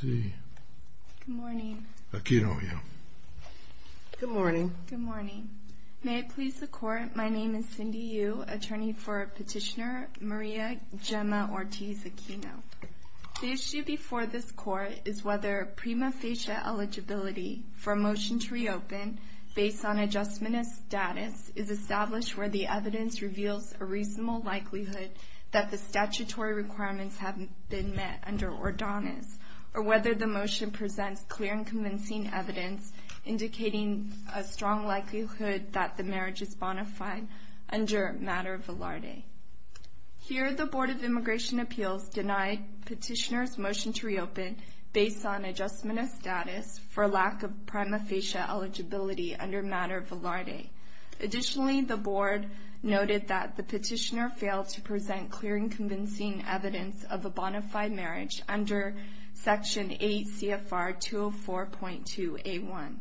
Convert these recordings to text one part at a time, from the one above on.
Good morning. May it please the Court, my name is Cindy Yu, attorney for Petitioner Maria Gemma Ortiz Aquino. The issue before this Court is whether prima facie eligibility for a motion to reopen based on adjustment of status is established where the evidence reveals a reasonable likelihood that the statutory requirements have been met under Ordonez or whether the motion presents clear and convincing evidence indicating a strong likelihood that the marriage is bona fide under matter velarde. Here the Board of Immigration Appeals denied Petitioner's motion to reopen based on adjustment of status for lack of the petitioner failed to present clear and convincing evidence of a bona fide marriage under Section 8 CFR 204.2A1.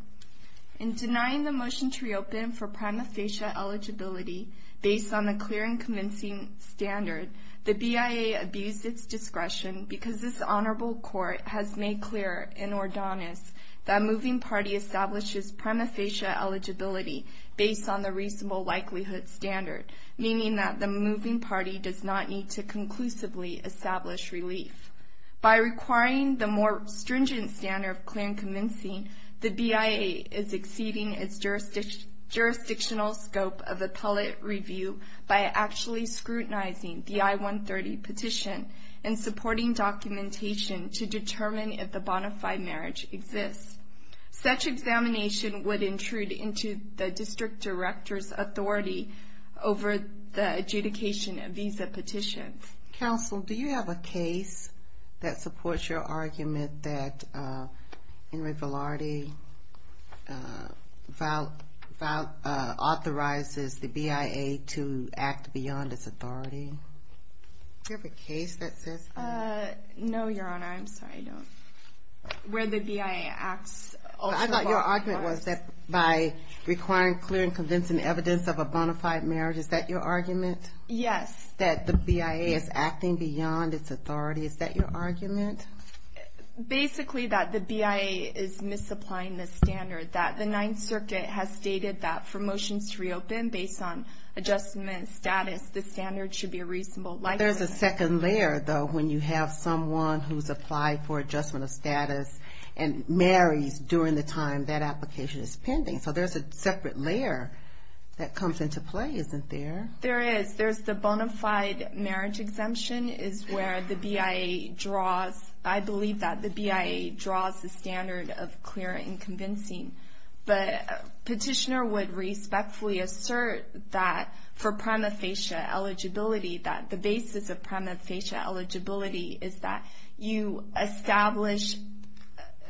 In denying the motion to reopen for prima facie eligibility based on the clear and convincing standard, the BIA abused its discretion because this Honorable Court has made clear in Ordonez that a moving party establishes prima facie eligibility based on the reasonable likelihood standard, meaning that the moving party does not need to conclusively establish relief. By requiring the more stringent standard of clear and convincing, the BIA is exceeding its jurisdictional scope of appellate review by actually scrutinizing the I-130 petition and supporting documentation to determine if the bona fide marriage exists. Such examination would intrude into the district director's authority over the adjudication of visa petitions. Counsel, do you have a case that supports your argument that Henry Velarde authorizes the BIA to act beyond its authority? Do you have a case that says that? No, Your Honor. I'm sorry, I don't. Where the BIA acts... I thought your argument was that by requiring clear and convincing evidence of a bona fide marriage. Is that your argument? Yes. That the BIA is acting beyond its authority. Is that your argument? Basically that the BIA is misapplying the standard. That the Ninth Circuit has stated that for motions to reopen based on adjustment status, the standard should be a reasonable likelihood. But there's a second layer, though, when you have someone who's applied for adjustment of status and marries during the time that application is pending. So there's a separate layer that comes into play, isn't there? There is. There's the bona fide marriage exemption is where the BIA draws... I believe that the BIA draws the standard of clear and convincing. But a petitioner would respectfully assert that for prima facie eligibility, that the basis of prima facie eligibility is that you establish...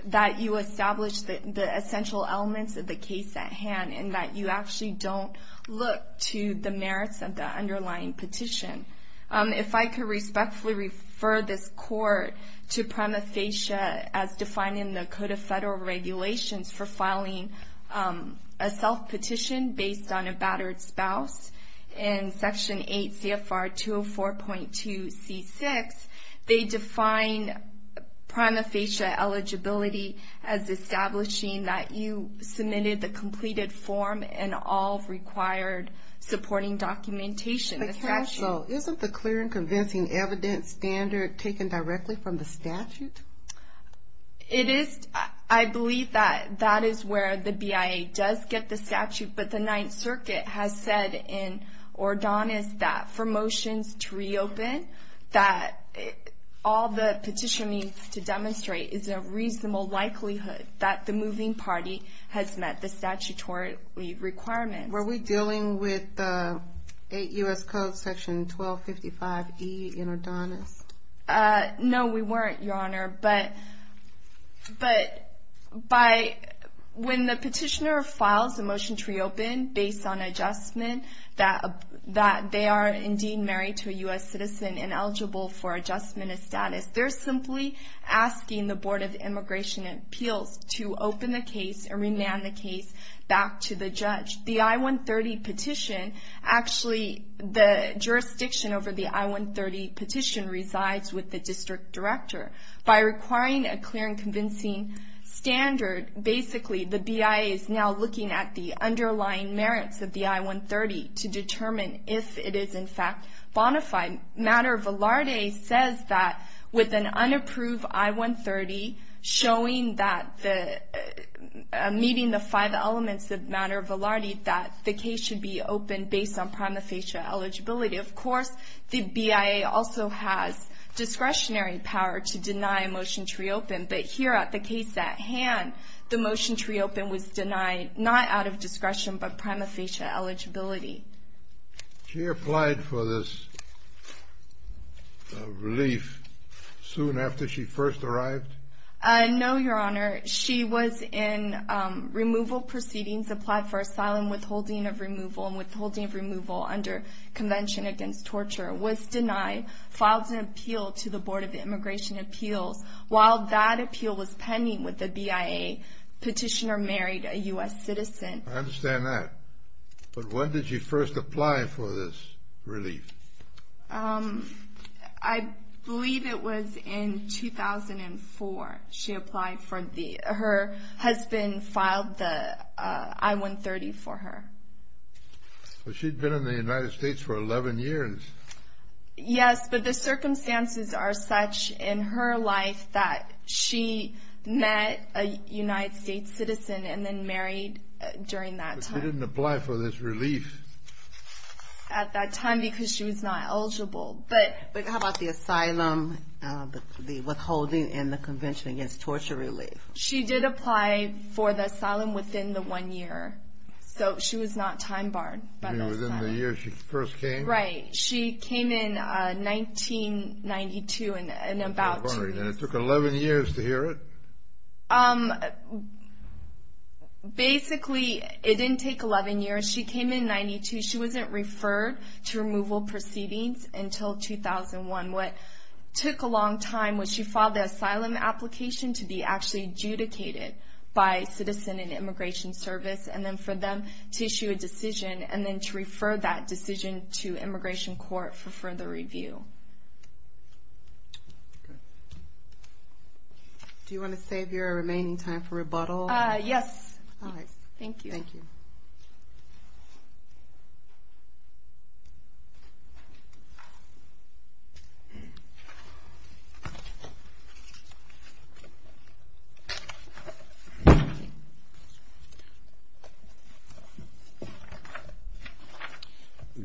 that you establish the essential elements of the case at hand and that you actually don't look to the merits of the underlying petition. If I could respectfully refer this Court to prima facie as defining the Code of Federal Regulations for filing a self-petition based on a battered spouse, in Section 8 CFR 204.2 C6, they define prima facie eligibility as establishing that you submitted the completed form and all required supporting documentation. But can I also... isn't the clear and convincing evidence standard taken directly from the statute? It is. I believe that that is where the BIA does get the statute. But the Ninth Circuit has said in Ordonis that for motions to reopen, that all the petitioner needs to demonstrate is a reasonable likelihood that the moving party has met the statutory requirements. Were we dealing with 8 U.S. Code Section 1255E in Ordonis? No, we weren't, Your Honor. But when the petitioner files a motion to reopen based on adjustment that they are indeed married to a U.S. citizen and eligible for adjustment of status, they're simply asking the Board of Immigration and Appeals to open the case and remand the case back to the judge. The I-130 petition, actually the jurisdiction over the I-130 petition resides with the district director. By requiring a clear and convincing standard, basically the BIA is now looking at the underlying merits of the I-130 to determine if it is in fact bona fide. Matter of Valarde says that with an unapproved I-130 showing that meeting the five elements of matter of Valarde that the case should be opened based on prima facie eligibility. Of course, the BIA also has discretionary power to deny a motion to reopen. But here at the case at hand, the motion to reopen was denied not out of discretion but prima facie eligibility. She applied for this relief soon after she first arrived? No, Your Honor. She was in removal proceedings, applied for asylum, withholding of removal and withholding of removal under Convention Against Torture, was denied, filed an appeal to the Board of Immigration and Appeals. While that appeal was pending with the BIA, petitioner married a U.S. citizen. I understand that. But when did she first apply for this relief? I believe it was in 2004 she applied for the, her husband filed the I-130 for her. But she'd been in the United States for 11 years. Yes, but the circumstances are such in her life that she met a United States citizen and then married during that time. But she didn't apply for this relief. At that time because she was not eligible. But how about the asylum, the withholding and the Convention Against Torture relief? She did apply for the asylum within the one year. So she was not time barred. You mean within the year she first came? Right. She came in 1992 and about two weeks. I'm wondering, and it took 11 years to hear it? Basically, it didn't take 11 years. She came in 1992. She wasn't referred to removal proceedings until 2001. What took a long time was she filed the asylum application to be actually adjudicated by Citizen and Immigration Service and then for them to issue a decision and then to refer that decision to Immigration Court for further review. Okay. Do you want to save your remaining time for rebuttal? Yes. All right. Thank you. Thank you.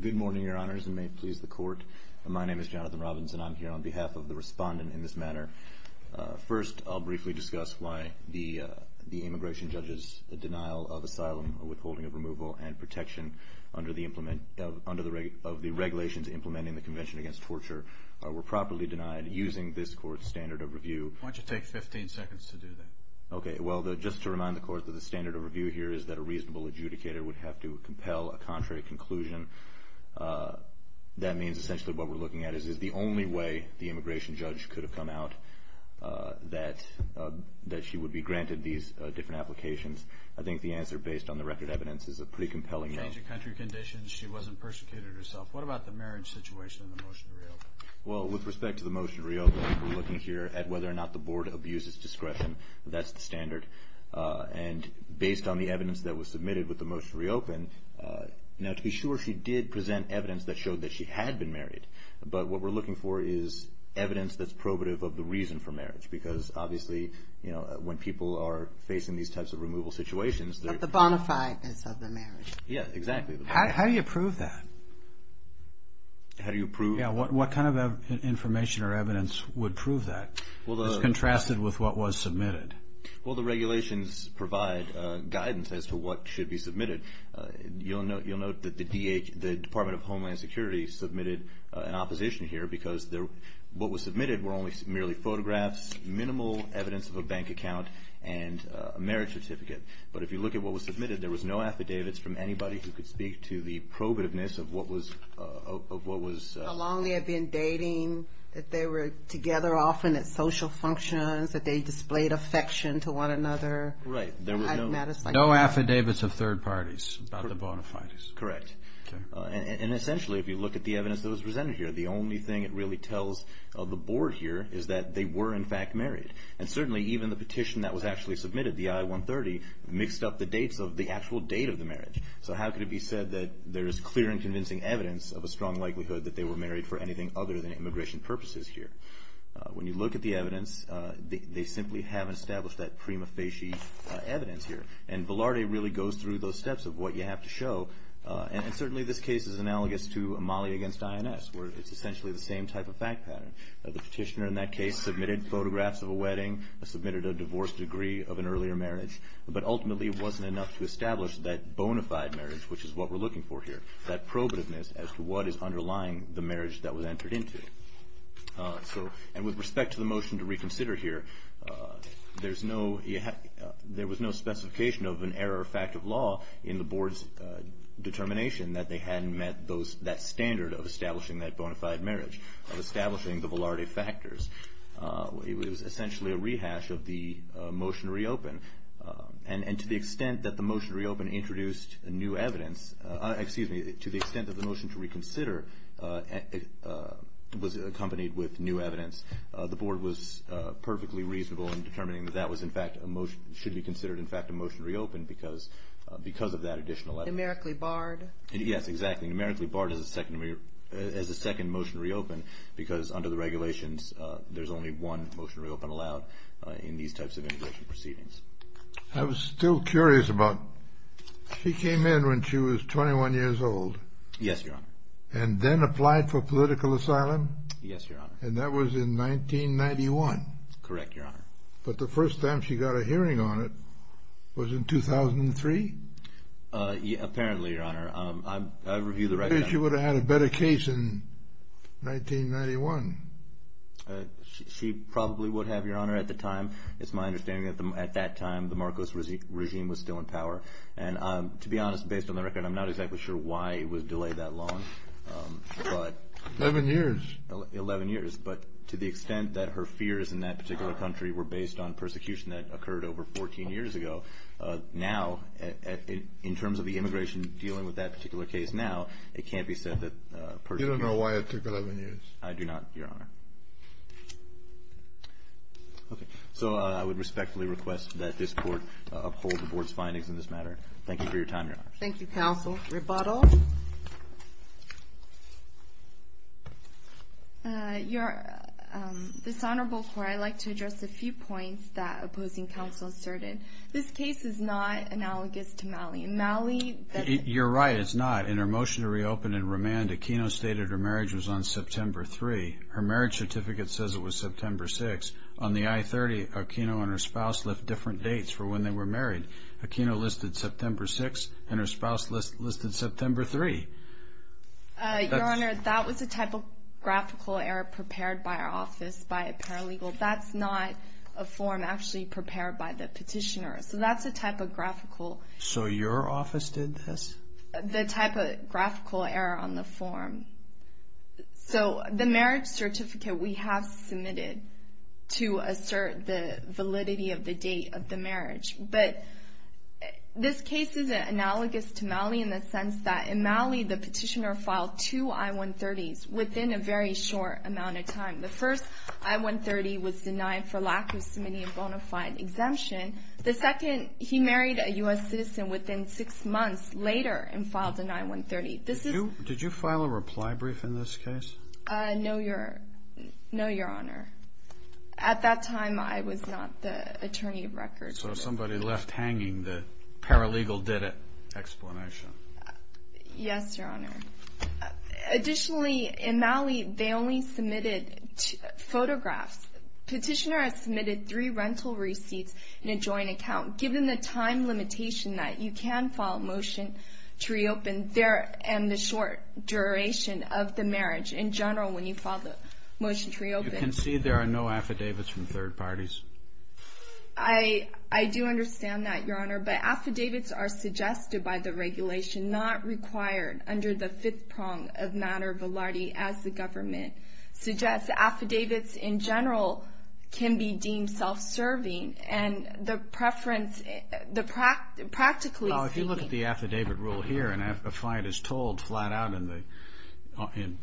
Good morning, Your Honors, and may it please the Court. My name is Jonathan Robbins, and I'm here on behalf of the respondent in this matter. First, I'll briefly discuss why the immigration judge's denial of asylum, withholding of removal and protection under the regulations implementing the Convention Against Torture were properly denied using this Court's standard of review. Why don't you take 15 seconds to do that? Okay. Well, just to remind the Court that the standard of review here is that a reasonable adjudicator would have to compel a contrary conclusion. That means essentially what we're looking at is, is the only way the immigration judge could have come out that she would be granted these different applications. I think the answer based on the record evidence is a pretty compelling one. She changed her country of conditions. She wasn't persecuted herself. What about the marriage situation and the motion to reopen? Well, with respect to the motion to reopen, we're looking here at whether or not the Board abuses discretion. That's the standard. And based on the evidence that was submitted with the motion to reopen, now to be sure, she did present evidence that showed that she had been married. But what we're looking for is evidence that's probative of the reason for marriage because obviously, you know, when people are facing these types of removal situations, But the bonafide is of the marriage. Yeah, exactly. How do you prove that? How do you prove? Yeah, what kind of information or evidence would prove that? It's contrasted with what was submitted. Well, the regulations provide guidance as to what should be submitted. You'll note that the Department of Homeland Security submitted an opposition here because what was submitted were merely photographs, minimal evidence of a bank account, and a marriage certificate. But if you look at what was submitted, there was no affidavits from anybody who could speak to the probativeness of what was... How long they had been dating, that they were together often at social functions, that they displayed affection to one another... Right. No affidavits of third parties about the bonafides. Correct. And essentially, if you look at the evidence that was presented here, the only thing it really tells the board here is that they were in fact married. And certainly, even the petition that was actually submitted, the I-130, mixed up the dates of the actual date of the marriage. So how could it be said that there is clear and convincing evidence of a strong likelihood that they were married for anything other than immigration purposes here? When you look at the evidence, they simply haven't established that prima facie evidence here. And Velarde really goes through those steps of what you have to show. And certainly, this case is analogous to Amali against INS, where it's essentially the same type of fact pattern. The petitioner in that case submitted photographs of a wedding, submitted a divorce degree of an earlier marriage, but ultimately it wasn't enough to establish that bona fide marriage, which is what we're looking for here, that probativeness as to what is underlying the marriage that was entered into. And with respect to the motion to reconsider here, there was no specification of an error of fact of law in the board's determination that they hadn't met that standard of establishing that bona fide marriage, of establishing the Velarde factors. It was essentially a rehash of the motion to reopen. And to the extent that the motion to reopen introduced new evidence, excuse me, to the extent that the motion to reconsider was accompanied with new evidence, the board was perfectly reasonable in determining that that was, in fact, should be considered, in fact, a motion to reopen because of that additional evidence. Numerically barred. Yes, exactly. Numerically barred as a second motion to reopen because under the regulations, there's only one motion to reopen allowed in these types of immigration proceedings. I was still curious about, she came in when she was 21 years old. Yes, Your Honor. And then applied for political asylum? Yes, Your Honor. And that was in 1991? Correct, Your Honor. But the first time she got a hearing on it was in 2003? Apparently, Your Honor. I review the record. She would have had a better case in 1991. She probably would have, Your Honor, at the time. It's my understanding that at that time the Marcos regime was still in power. And to be honest, based on the record, I'm not exactly sure why it was delayed that long. Eleven years. Eleven years. But to the extent that her fears in that particular country were based on persecution that occurred over 14 years ago, now, in terms of the immigration dealing with that particular case now, it can't be said that persecution You don't know why it took 11 years? I do not, Your Honor. Okay. So I would respectfully request that this Court uphold the Board's findings in this matter. Thank you for your time, Your Honor. Thank you, counsel. Rebuttal. Your Honor, this Honorable Court, I'd like to address a few points that opposing counsel asserted. This case is not analogous to Malley. Malley You're right, it's not. In her motion to reopen and remand, Aquino stated her marriage was on September 3. Her marriage certificate says it was September 6. On the I-30, Aquino and her spouse left different dates for when they were married. Aquino listed September 6, and her spouse listed September 3. Your Honor, that was a typographical error prepared by our office by a paralegal. That's not a form actually prepared by the petitioner. So that's a typographical The typographical error on the form. So the marriage certificate we have submitted to assert the validity of the date of the marriage. But this case is analogous to Malley in the sense that in Malley, the petitioner filed two I-130s within a very short amount of time. The first I-130 was denied for lack of submitting a bona fide exemption. The second, he married a U.S. citizen within six months later and filed an I-130. Did you file a reply brief in this case? No, Your Honor. At that time, I was not the attorney of record. So somebody left hanging the paralegal did it explanation. Yes, Your Honor. Additionally, in Malley, they only submitted photographs. Petitioner has submitted three rental receipts in a joint account. Given the time limitation that you can file a motion to reopen there and the short duration of the marriage in general when you file the motion to reopen. You can see there are no affidavits from third parties. I do understand that, Your Honor. But affidavits are suggested by the regulation, not required under the fifth prong of Mater Valardi as the government suggests. Affidavits in general can be deemed self-serving. If you look at the affidavit rule here and a fight is told flat out in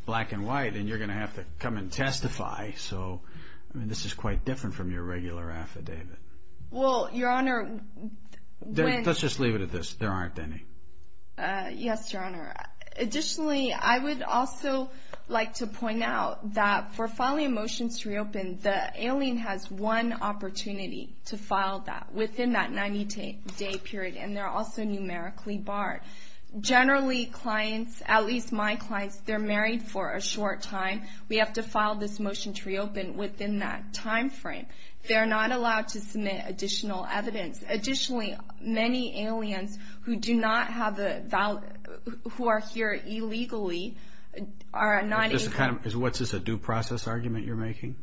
black and white and you're going to have to come and testify. So, I mean, this is quite different from your regular affidavit. Well, Your Honor. Let's just leave it at this. Yes, Your Honor. Additionally, I would also like to point out that for filing a motion to reopen, the alien has one opportunity to file that within that 90-day period. And they're also numerically barred. Generally, clients, at least my clients, they're married for a short time. We have to file this motion to reopen within that time frame. They're not allowed to submit additional evidence. Additionally, many aliens who do not have a valid, who are here illegally, are not able. What's this, a due process argument you're making?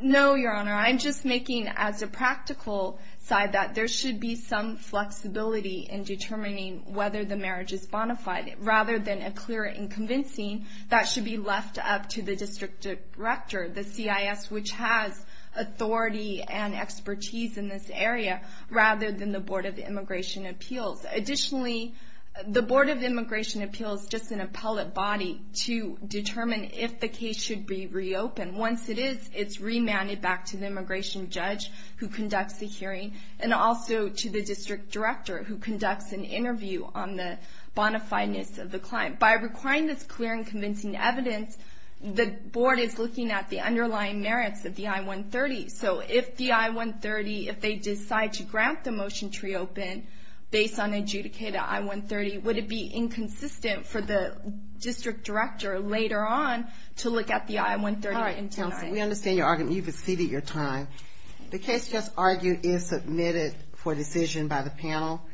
No, Your Honor. I'm just making, as a practical side, that there should be some flexibility in determining whether the marriage is bona fide. Rather than a clear and convincing, that should be left up to the district director, the CIS, which has authority and expertise in this area, rather than the Board of Immigration Appeals. Additionally, the Board of Immigration Appeals is just an appellate body to determine if the case should be reopened. Once it is, it's remanded back to the immigration judge, who conducts the hearing, and also to the district director, who conducts an interview on the bona fideness of the client. By requiring this clear and convincing evidence, the board is looking at the underlying merits of the I-130. So if the I-130, if they decide to grant the motion to reopen, based on the adjudicated I-130, would it be inconsistent for the district director, later on, to look at the I-130? We understand your argument. You've exceeded your time. The case just argued is submitted for decision by the panel.